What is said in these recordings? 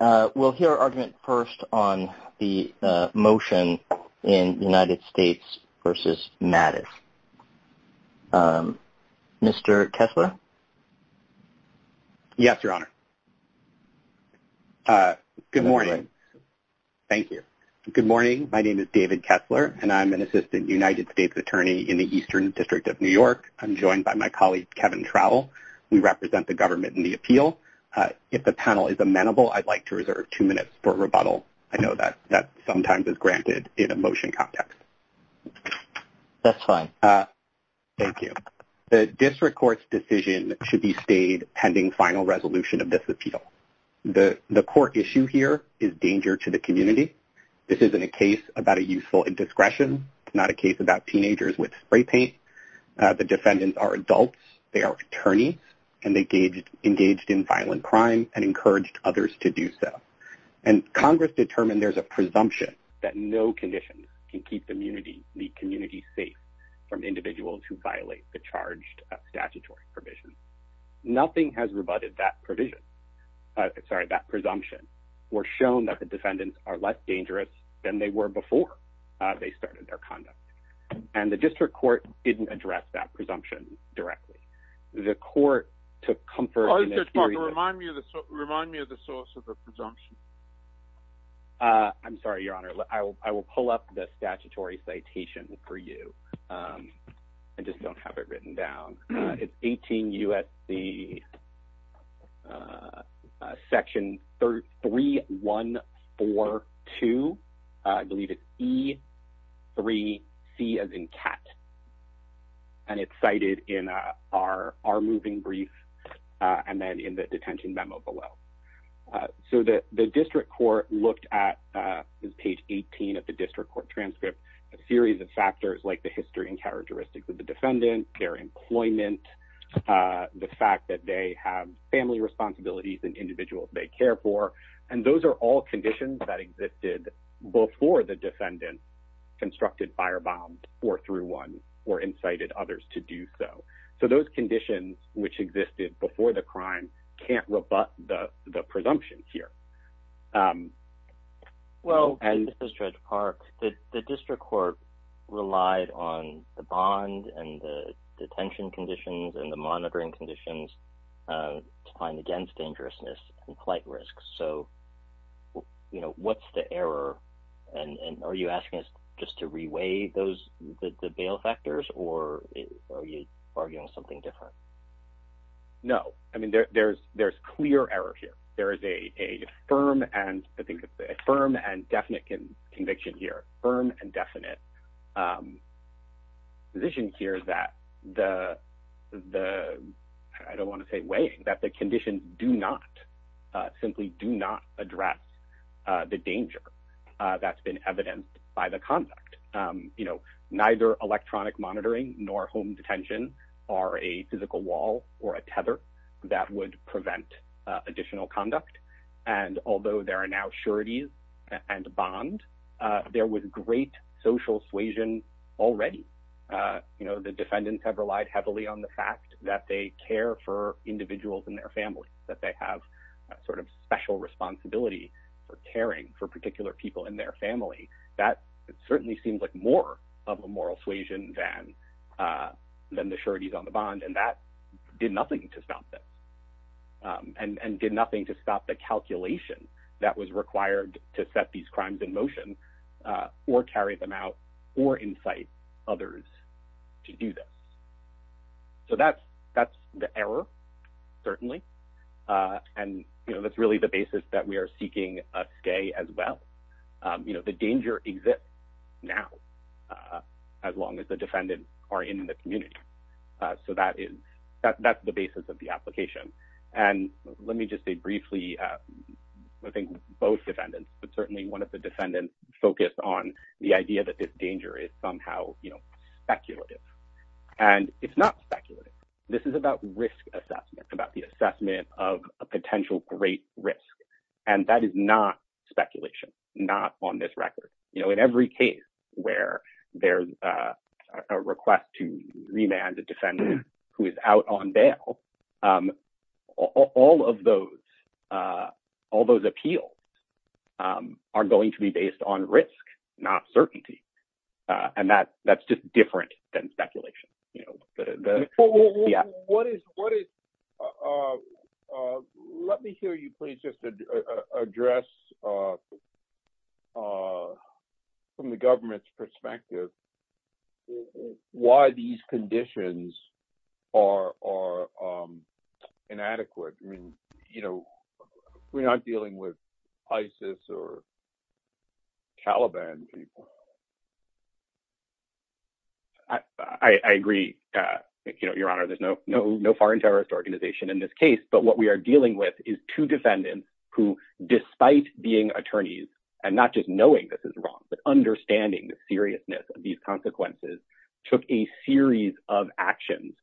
Good morning. My name is David Kessler and I'm an Assistant United States Attorney in the Eastern District of New York. I'm joined by my colleague Kevin Trowell. We represent the government in the appeal. If the panel is amenable, I'd like to reserve two minutes for rebuttal. I know that sometimes is granted in a motion context. Kevin Trowell That's fine. David Kessler Thank you. The District Court's decision should be stayed pending final resolution of this appeal. The core issue here is danger to the community. This isn't a case about a useful indiscretion. It's not a case about in violent crime and encouraged others to do so. And Congress determined there's a presumption that no conditions can keep the community safe from individuals who violate the charged statutory provisions. Nothing has rebutted that presumption or shown that the defendants are less dangerous than they were before they started their conduct. And the District Court didn't address that presumption directly. The court took comfort. Kevin Trowell Remind me of the source of the presumption. David Kessler I'm sorry, Your Honor. I will pull up the statutory citation for you. I just don't have it written down. It's 18 U.S.C. Section 3142. I believe it's E3C as in cat. And it's cited in our moving brief, and then in the detention memo below. So the District Court looked at page 18 of the District Court transcript, a series of factors like the history and characteristics of the defendant, their employment, the fact that they have family responsibilities and individuals they care for. And those are all conditions that existed before the defendant constructed firebomb or threw one or incited others to do so. So those conditions which existed before the crime can't rebut the presumption here. Judge Park Well, and this is Judge Park, that the District Court relied on the bond and the detention conditions and the monitoring conditions to find against dangerousness and flight risks. So, you know, what's the error? And are you asking us just to reweigh those the bail factors? Or are you arguing something different? Judge Park No. I mean, there's clear error here. There is a firm and I think it's a firm and definite conviction here, firm and definite position here that the, I don't want to say weighing, that the conditions do not, simply do not address the danger that's been evidenced by the conduct. You know, neither electronic monitoring nor home detention are a physical wall or a tether that would prevent additional conduct. And although there are now sureties and bond, there was great social suasion already. You know, the defendants have relied heavily on the fact that they care for individuals in their family, that they have sort of special responsibility for caring for particular people in their family. That certainly seems like more of a moral suasion than the sureties on the bond. And that did nothing to stop this. And did nothing to stop the calculation that was required to set these crimes in motion, or carry them out, or incite others to do this. So, that's the error, certainly. And, you know, that's really the basis that we are seeking today as well. You know, the danger exists now, as long as the defendants are in the community. So, that's the basis of the application. And let me just say briefly, I think both defendants, but certainly one of the defendants focused on the idea that this danger is somehow, you know, speculative. And it's not speculative. This is about risk assessment, about the assessment of a potential great risk. And that is not speculation, not on this record. You know, in every case where there's a request to remand a defendant who is out on bail, all of those appeals are going to be based on risk, not certainty. And that's just different than speculation. What is, let me hear you please just address from the government's perspective, why these conditions are inadequate. I mean, you know, we're not dealing with ISIS or Taliban people. I agree. You know, Your Honor, there's no foreign terrorist organization in this case, but what we are dealing with is two defendants who, despite being attorneys, and not just knowing this is wrong, but understanding the seriousness of these consequences, took a series of actions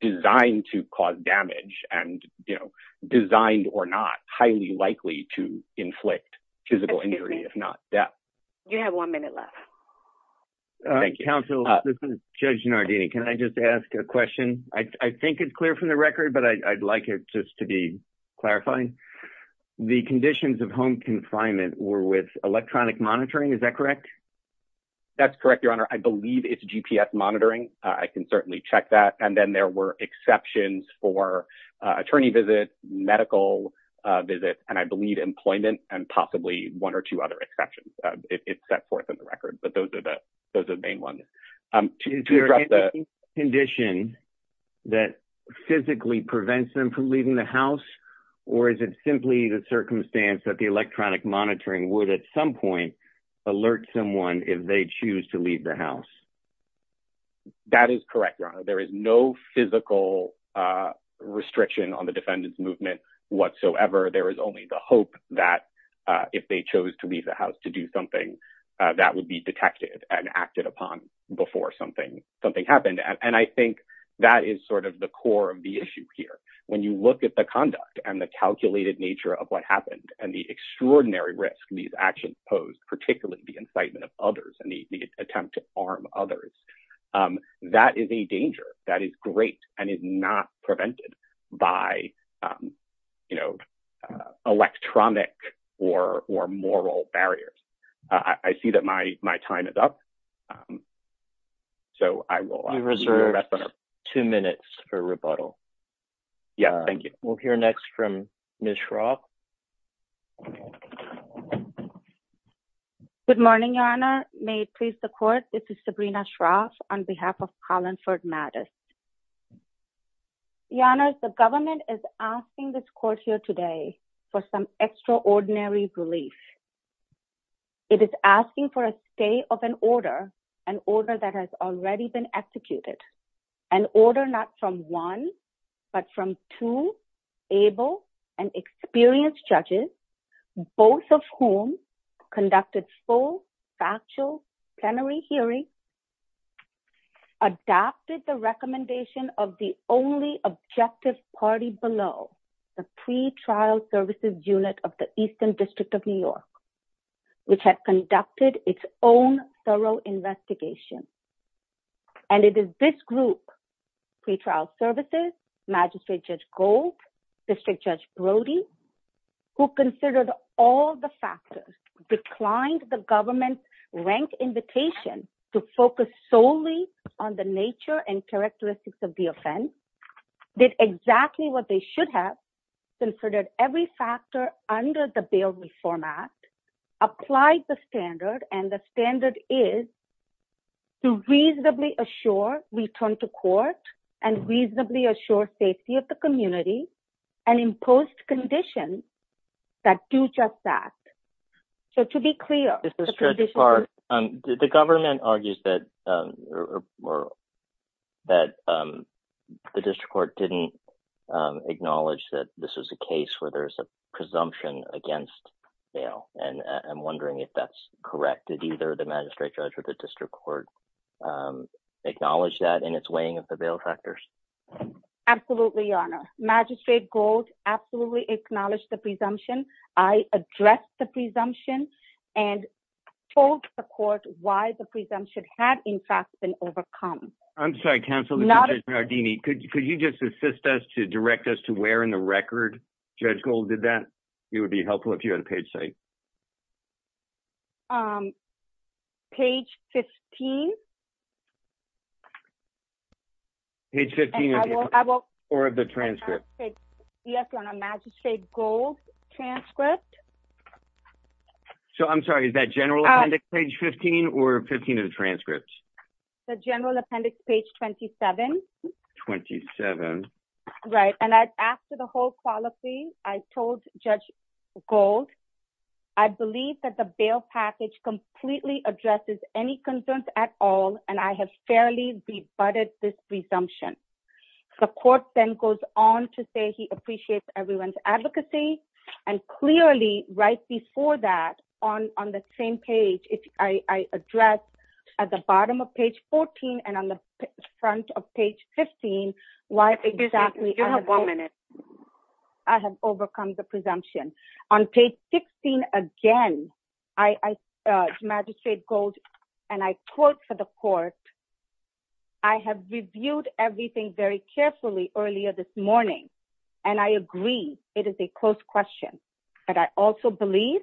designed to cause damage and, you know, designed or not highly likely to inflict physical injury, if not death. You have one minute left. Counsel, this is Judge Nardini. Can I just ask a question? I think it's clear from the record, but I'd like it just to be clarifying. The conditions of home confinement were with electronic monitoring. Is that correct? That's correct, Your Honor. I believe it's there were exceptions for attorney visits, medical visits, and I believe employment and possibly one or two other exceptions. It's set forth in the record, but those are the main ones. Is there a condition that physically prevents them from leaving the house? Or is it simply the circumstance that the electronic monitoring would at some point That is correct, Your Honor. There is no physical restriction on the defendant's movement whatsoever. There is only the hope that if they chose to leave the house to do something, that would be detected and acted upon before something happened. And I think that is sort of the core of the issue here. When you look at the conduct and the calculated nature of what happened and the extraordinary risk these actions posed, particularly the incitement of others and the attempt to harm others, that is a danger that is great and is not prevented by, you know, electronic or moral barriers. I see that my time is up. So I will reserve two minutes for rebuttal. Yeah, thank you. We'll hear next from Ms. Schrock. Good morning, Your Honor. May it please the court, this is Sabrina Schrock on behalf of Collinford Mattis. Your Honor, the government is asking this court here today for some extraordinary relief. It is asking for a stay of an order, an order that has already been executed, an order not from one, but from two able and experienced judges, both of whom conducted full factual plenary hearing, adopted the recommendation of the only objective party below the pretrial services unit of the Eastern District of New York, which had conducted its own thorough investigation. And it is this group, pretrial services, Magistrate Judge Gold, District Judge Brody, who considered all the factors, declined the government's rank invitation to focus solely on the nature and characteristics of the offense, did exactly what they should have, considered every factor under the bail reform act, applied the standard, and the standard is to reasonably assure return to court and reasonably assure safety of the community and imposed conditions that do just that. So to be clear, the government argues that the district court didn't acknowledge that this was a case where there's a presumption against bail. And I'm wondering if that's correct, did either the magistrate judge or the district court acknowledge that in its weighing of the bail factors? Absolutely, Your Honor. Magistrate Gold absolutely acknowledged the presumption. I addressed the presumption and told the court why the presumption had, in fact, been overcome. I'm sorry, counsel. Could you just assist us to direct us to where in the record Judge Gold did that? It would be helpful if you had a page say. Page 15. Page 15 or the transcript. Yes, Your Honor. Magistrate Gold's transcript. So I'm sorry, is that general appendix page 15 or 15 of the transcripts? The general appendix page 27. 27. Right. And after the whole policy, I told Judge Gold, I believe that the bail package completely addresses any concerns at all, and I have fairly rebutted this presumption. The court then goes on to say he appreciates everyone's advocacy. And clearly, right before that, on the same page, if I address at the bottom of page 14 and on the front of page 15, why exactly... Excuse me, you have one minute. I have overcome the presumption. On page 16, again, I told Magistrate Gold, and I quote for the court, I have reviewed everything very carefully earlier this morning, and I agree it is a close question. But I also believe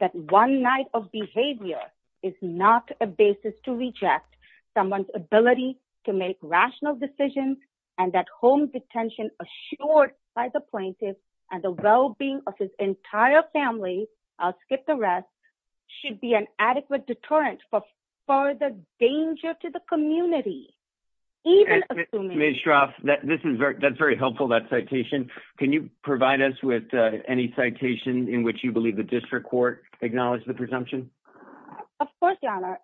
that one night of behavior is not a basis to reject someone's ability to make rational decisions, and that home detention assured by the plaintiff and the well-being of his entire family, I'll skip the rest, should be an adequate deterrent for further danger to the community. Even assuming... Ms. Shroff, that's very helpful, that citation. Can you provide us with any citation in which you believe the district court acknowledged the presumption? Of course, Your Honor.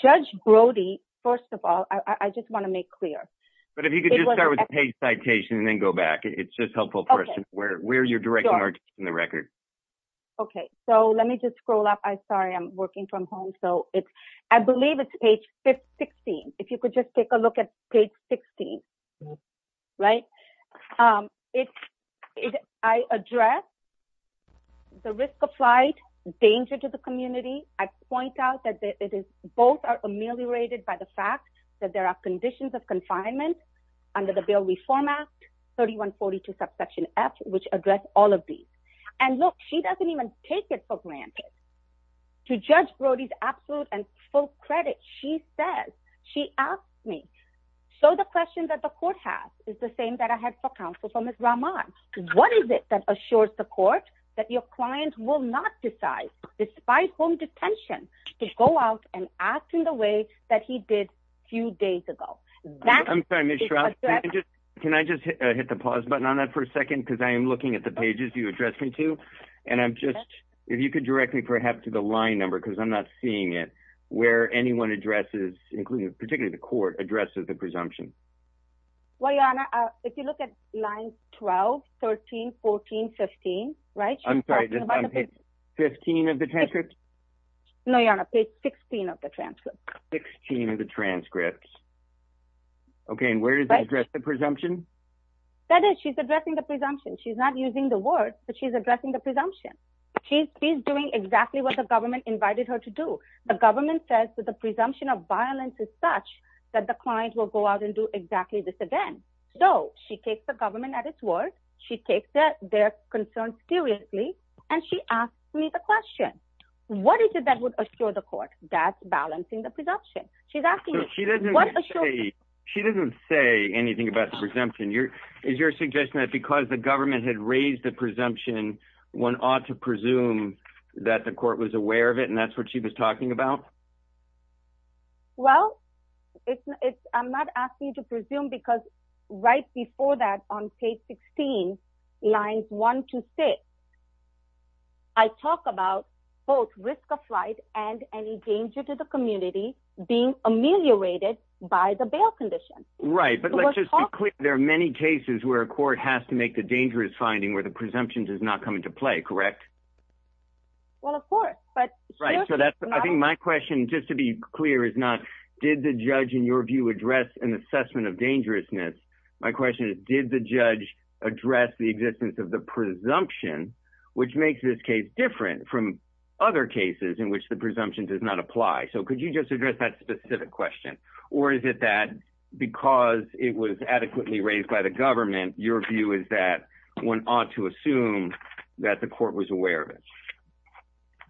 Judge Brody, first of all, I just want to make clear. But if you could just start with the page citation and then go back, it's just helpful for us to where you're directing the record. Okay. So let me just scroll up. Sorry, I'm working from home. So I believe it's page 16. If you could just take a look at page 16, right? I address the risk applied, danger to the community. I point out that both are ameliorated by the fact that there are conditions of confinement under the Bail Reform Act, 3142 subsection F, which address all of these. And look, she doesn't even take it for granted. To Judge Brody's absolute and full credit, she says, she asked me, so the question that the court has is the same that I had for counsel for Ms. Rahman. What is it that assures the court that your client will not decide, despite home detention, to go out and act in the way that he did a few days ago? I'm sorry, Ms. Shroff. Can I just hit the pause button on that for a second? Because I am looking at the pages you addressed me to, and I'm just, if you could direct me perhaps to the line number, because I'm not seeing it, where anyone addresses, particularly the court, addresses the presumption. Well, Your Honor, if you look at line 12, 13, 14, 15, right? I'm sorry. 15 of the transcript? No, Your Honor, page 16 of the transcript. 16 of the transcript. Okay. And where does it address the presumption? That is, she's addressing the presumption. She's not using the words, but she's addressing the presumption. She's doing exactly what the government invited her to do. The government says that the presumption of violence is such that the client will go out and do exactly this again. So she takes the government at its word, she takes their concerns seriously, and she asks me the question. What is it that would assure the court that's balancing the presumption? She doesn't say anything about the presumption. Is your suggestion that because the government had raised the presumption, one ought to presume that the court was aware of it, and that's what she was talking about? Well, I'm not asking you to presume, because right before that, on page 16, lines 1 to 6, I talk about both risk of flight and any danger to the community being ameliorated by the bail condition. Right. But let's just be clear, there are many cases where a court has to make the dangerous finding where the presumption does not come into play, correct? Well, of course. Right. So I think my question, just to be clear, is not, did the judge, in your view, address an assessment of dangerousness? My question is, did the judge address the existence of the presumption, which makes this case different from other cases in which the presumption does not apply? So could you just address that specific question? Or is it that because it was adequately raised by the government, your view is that one ought to assume that the court was aware of it?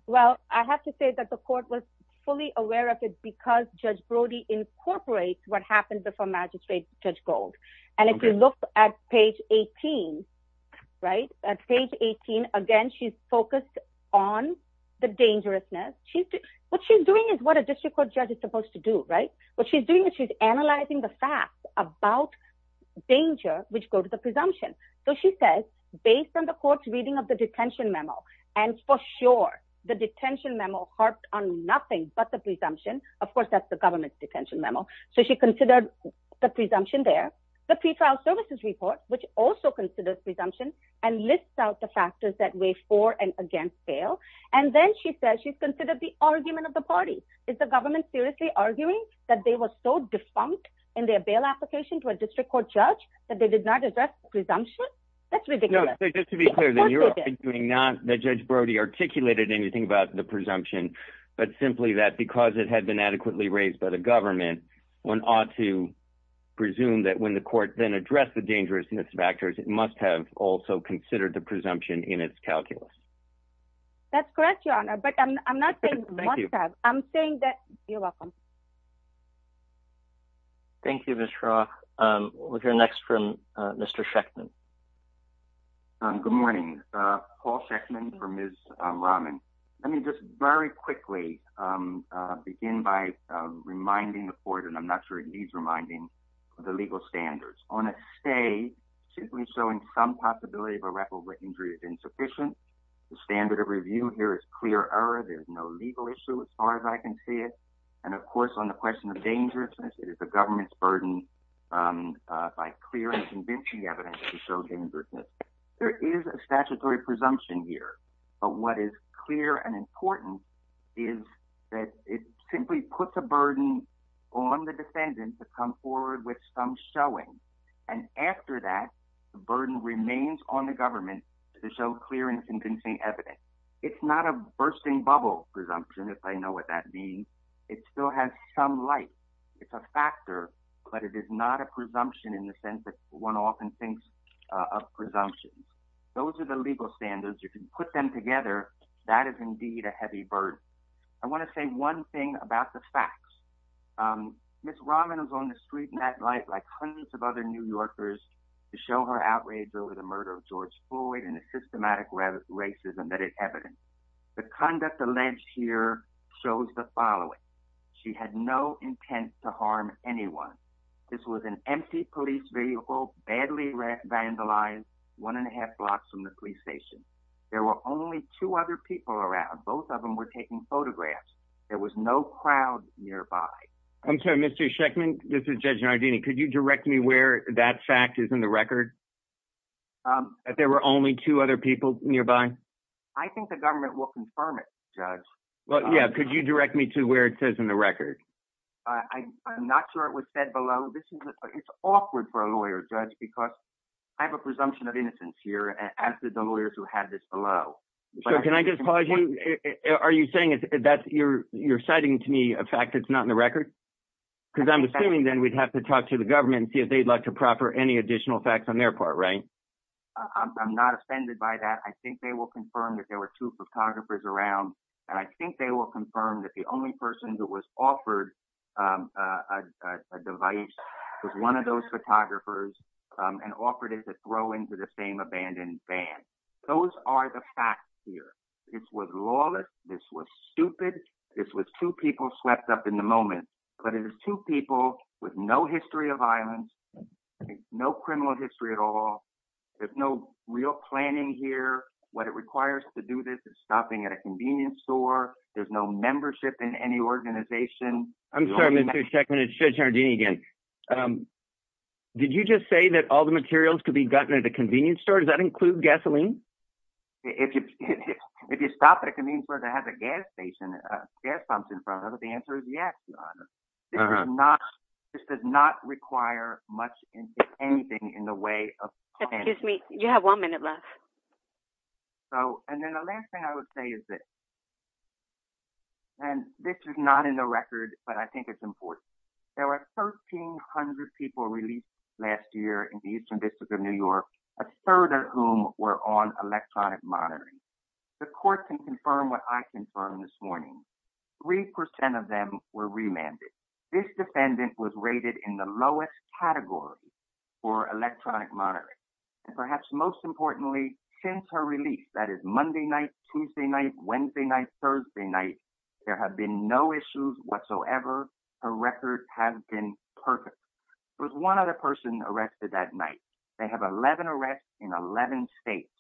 Well, I have to say that the court was fully aware of it because Judge Brody incorporates what happened before Magistrate Judge Gold. And if you look at page 18, right, at page 18, again, she's focused on the dangerousness. What she's doing is what a district court judge is supposed to do, right? What she's doing is she's analyzing the facts about danger, which go to the presumption. So she says, based on the court's reading of the detention memo, and for sure, the detention memo harped on nothing but the presumption. Of course, that's the government's detention memo. So she considered the presumption there, the pretrial services report, which also considers presumption and lists out the factors that weigh for and against bail. And then she says she's considered the argument of the party. Is the government seriously arguing that they were so defunct in their bail application to a district court judge that they did not address the presumption? That's ridiculous. No, just to be clear, then you're arguing not that Judge Brody articulated anything about the presumption, but simply that because it had been adequately raised by the government, one ought to presume that when the court then addressed the dangerousness of actors, it must have also considered the presumption in its calculus. That's correct, Your Honor. But I'm not saying must have. I'm saying that you're welcome. Thank you, Ms. Shah. We'll hear next from Mr. Shechtman. Good morning. Paul Shechtman for Ms. Rahman. Let me just very quickly begin by reminding the court, I'm not sure it needs reminding, the legal standards. On a stay, simply showing some possibility of a record where injury is insufficient. The standard of review here is clear error. There's no legal issue as far as I can see it. And of course, on the question of dangerousness, it is the government's burden by clear and convincing evidence to show dangerousness. There is a statutory presumption here. But what is clear and important is that it simply puts a burden on the defendants to come forward with some showing. And after that, the burden remains on the government to show clear and convincing evidence. It's not a bursting bubble presumption, if I know what that means. It still has some light. It's a factor, but it is not a presumption in the sense that one often thinks of presumptions. Those are the legal standards. If you put them together, that is indeed a heavy burden. I want to say one thing about the facts. Ms. Rahman was on the street in that light like hundreds of other New Yorkers to show her outrage over the murder of George Floyd and the systematic racism that it evidenced. The conduct alleged here shows the following. She had no intent to harm anyone. This was an empty police vehicle, badly vandalized, one and a half blocks from the police station. There were only two other people around. Both of them were taking photographs. There was no crowd nearby. I'm sorry, Mr. Shekman, this is Judge Nardini. Could you direct me where that fact is in the record? That there were only two other people nearby? I think the government will confirm it, Judge. Well, yeah. Could you direct me to where it says in the record? I'm not sure it was said below. It's awkward for a lawyer, Judge, because I have a presumption of innocence here, as did the lawyers who had this below. Can I just pause you? Are you saying that you're citing to me a fact that's not in the record? Because I'm assuming then we'd have to talk to the government and see if they'd like to proper any additional facts on their part, right? I'm not offended by that. I think they will confirm that there were two photographers around. And I think they will confirm that the only person who was offered a device was one of those photographers and offered it to throw into the same abandoned van. Those are the facts here. This was lawless. This was stupid. This was two people swept up in the moment. But it is two people with no history of violence, no criminal history at all. There's no real planning here. What it requires to do this is stopping at a convenience store. There's no membership in any organization. I'm sorry, Mr. Sheckman. It's Judge Jardini again. Did you just say that all the materials could be gotten at a convenience store? Does that include gasoline? If you stop at a convenience store that has a gas station, a gas pump in front of it, the answer is yes, Your Honor. This does not require much, if anything, in the way of planning. Excuse me. You have one minute left. Okay. And then the last thing I would say is this. And this is not in the record, but I think it's important. There were 1,300 people released last year in the Eastern District of New York, a third of whom were on electronic monitoring. The court can confirm what I confirmed this morning. 3% of them were remanded. This defendant was rated in the lowest category for electronic monitoring. And perhaps most importantly, since her release, that is Monday night, Tuesday night, Wednesday night, Thursday night, there have been no issues whatsoever. Her record has been perfect. There was one other person arrested that night. They have 11 arrests in 11 states.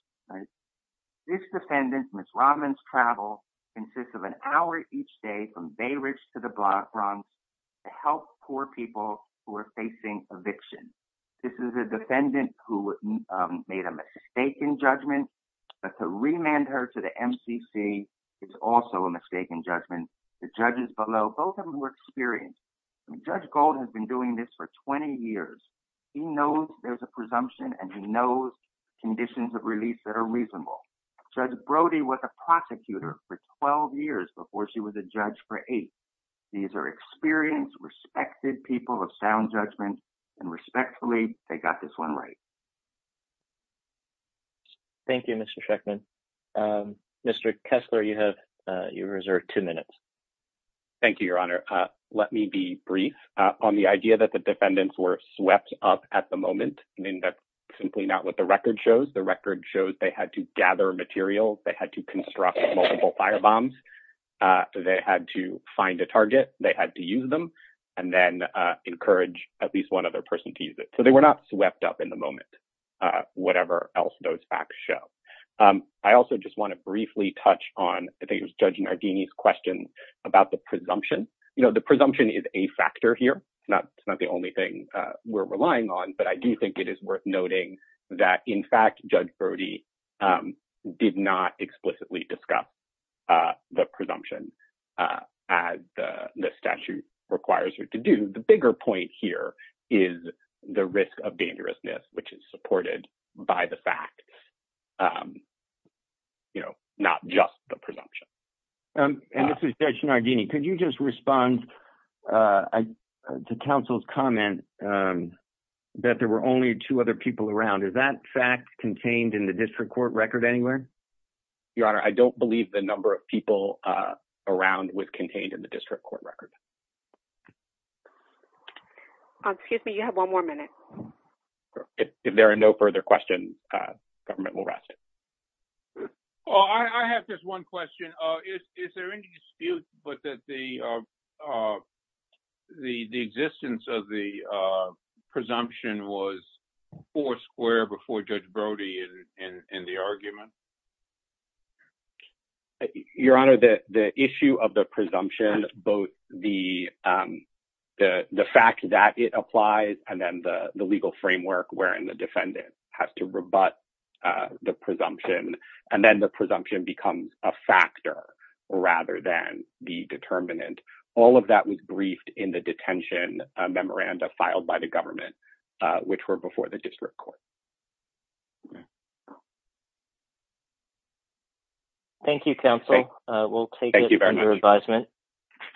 This defendant, Ms. Robbins' travel consists of an hour each day from Bay Ridge to the Bronx to help poor people who are facing eviction. This is a defendant who made a mistaken judgment, but to remand her to the MCC is also a mistaken judgment. The judges below, both of them were experienced. Judge Gold has been doing this for 20 years. He knows there's a presumption and he knows conditions of release that are reasonable. Judge Brody was a prosecutor for 12 years before she was a judge for eight. These are experienced, respected people of sound judgment and respectfully, they got this one right. Thank you, Mr. Schechtman. Mr. Kessler, you have your reserve two minutes. Thank you, Your Honor. Let me be brief on the idea that the defendants were swept up at the moment. The record shows they had to gather materials. They had to construct multiple fire bombs. They had to find a target. They had to use them and then encourage at least one other person to use it. They were not swept up in the moment, whatever else those facts show. I also just want to briefly touch on, I think it was Judge Nardini's question about the presumption. The presumption is a factor here. It's not the only thing we're relying on, but I do think it worth noting that, in fact, Judge Brody did not explicitly discuss the presumption as the statute requires her to do. The bigger point here is the risk of dangerousness, which is supported by the fact, not just the presumption. Judge Nardini, could you just respond to counsel's comment that there were only two other people around? Is that fact contained in the district court record anywhere? Your Honor, I don't believe the number of people around was contained in the district court record. Excuse me, you have one more minute. If there are no further questions, the government will rest. Well, I have just one question. Is there any dispute that the existence of the presumption was four square before Judge Brody in the argument? Your Honor, the issue of the presumption, both the fact that it applies and then the legal presumption, and then the presumption becomes a factor rather than the determinant, all of that was briefed in the detention memoranda filed by the government, which were before the district court. Thank you, counsel. We'll take it under advisement.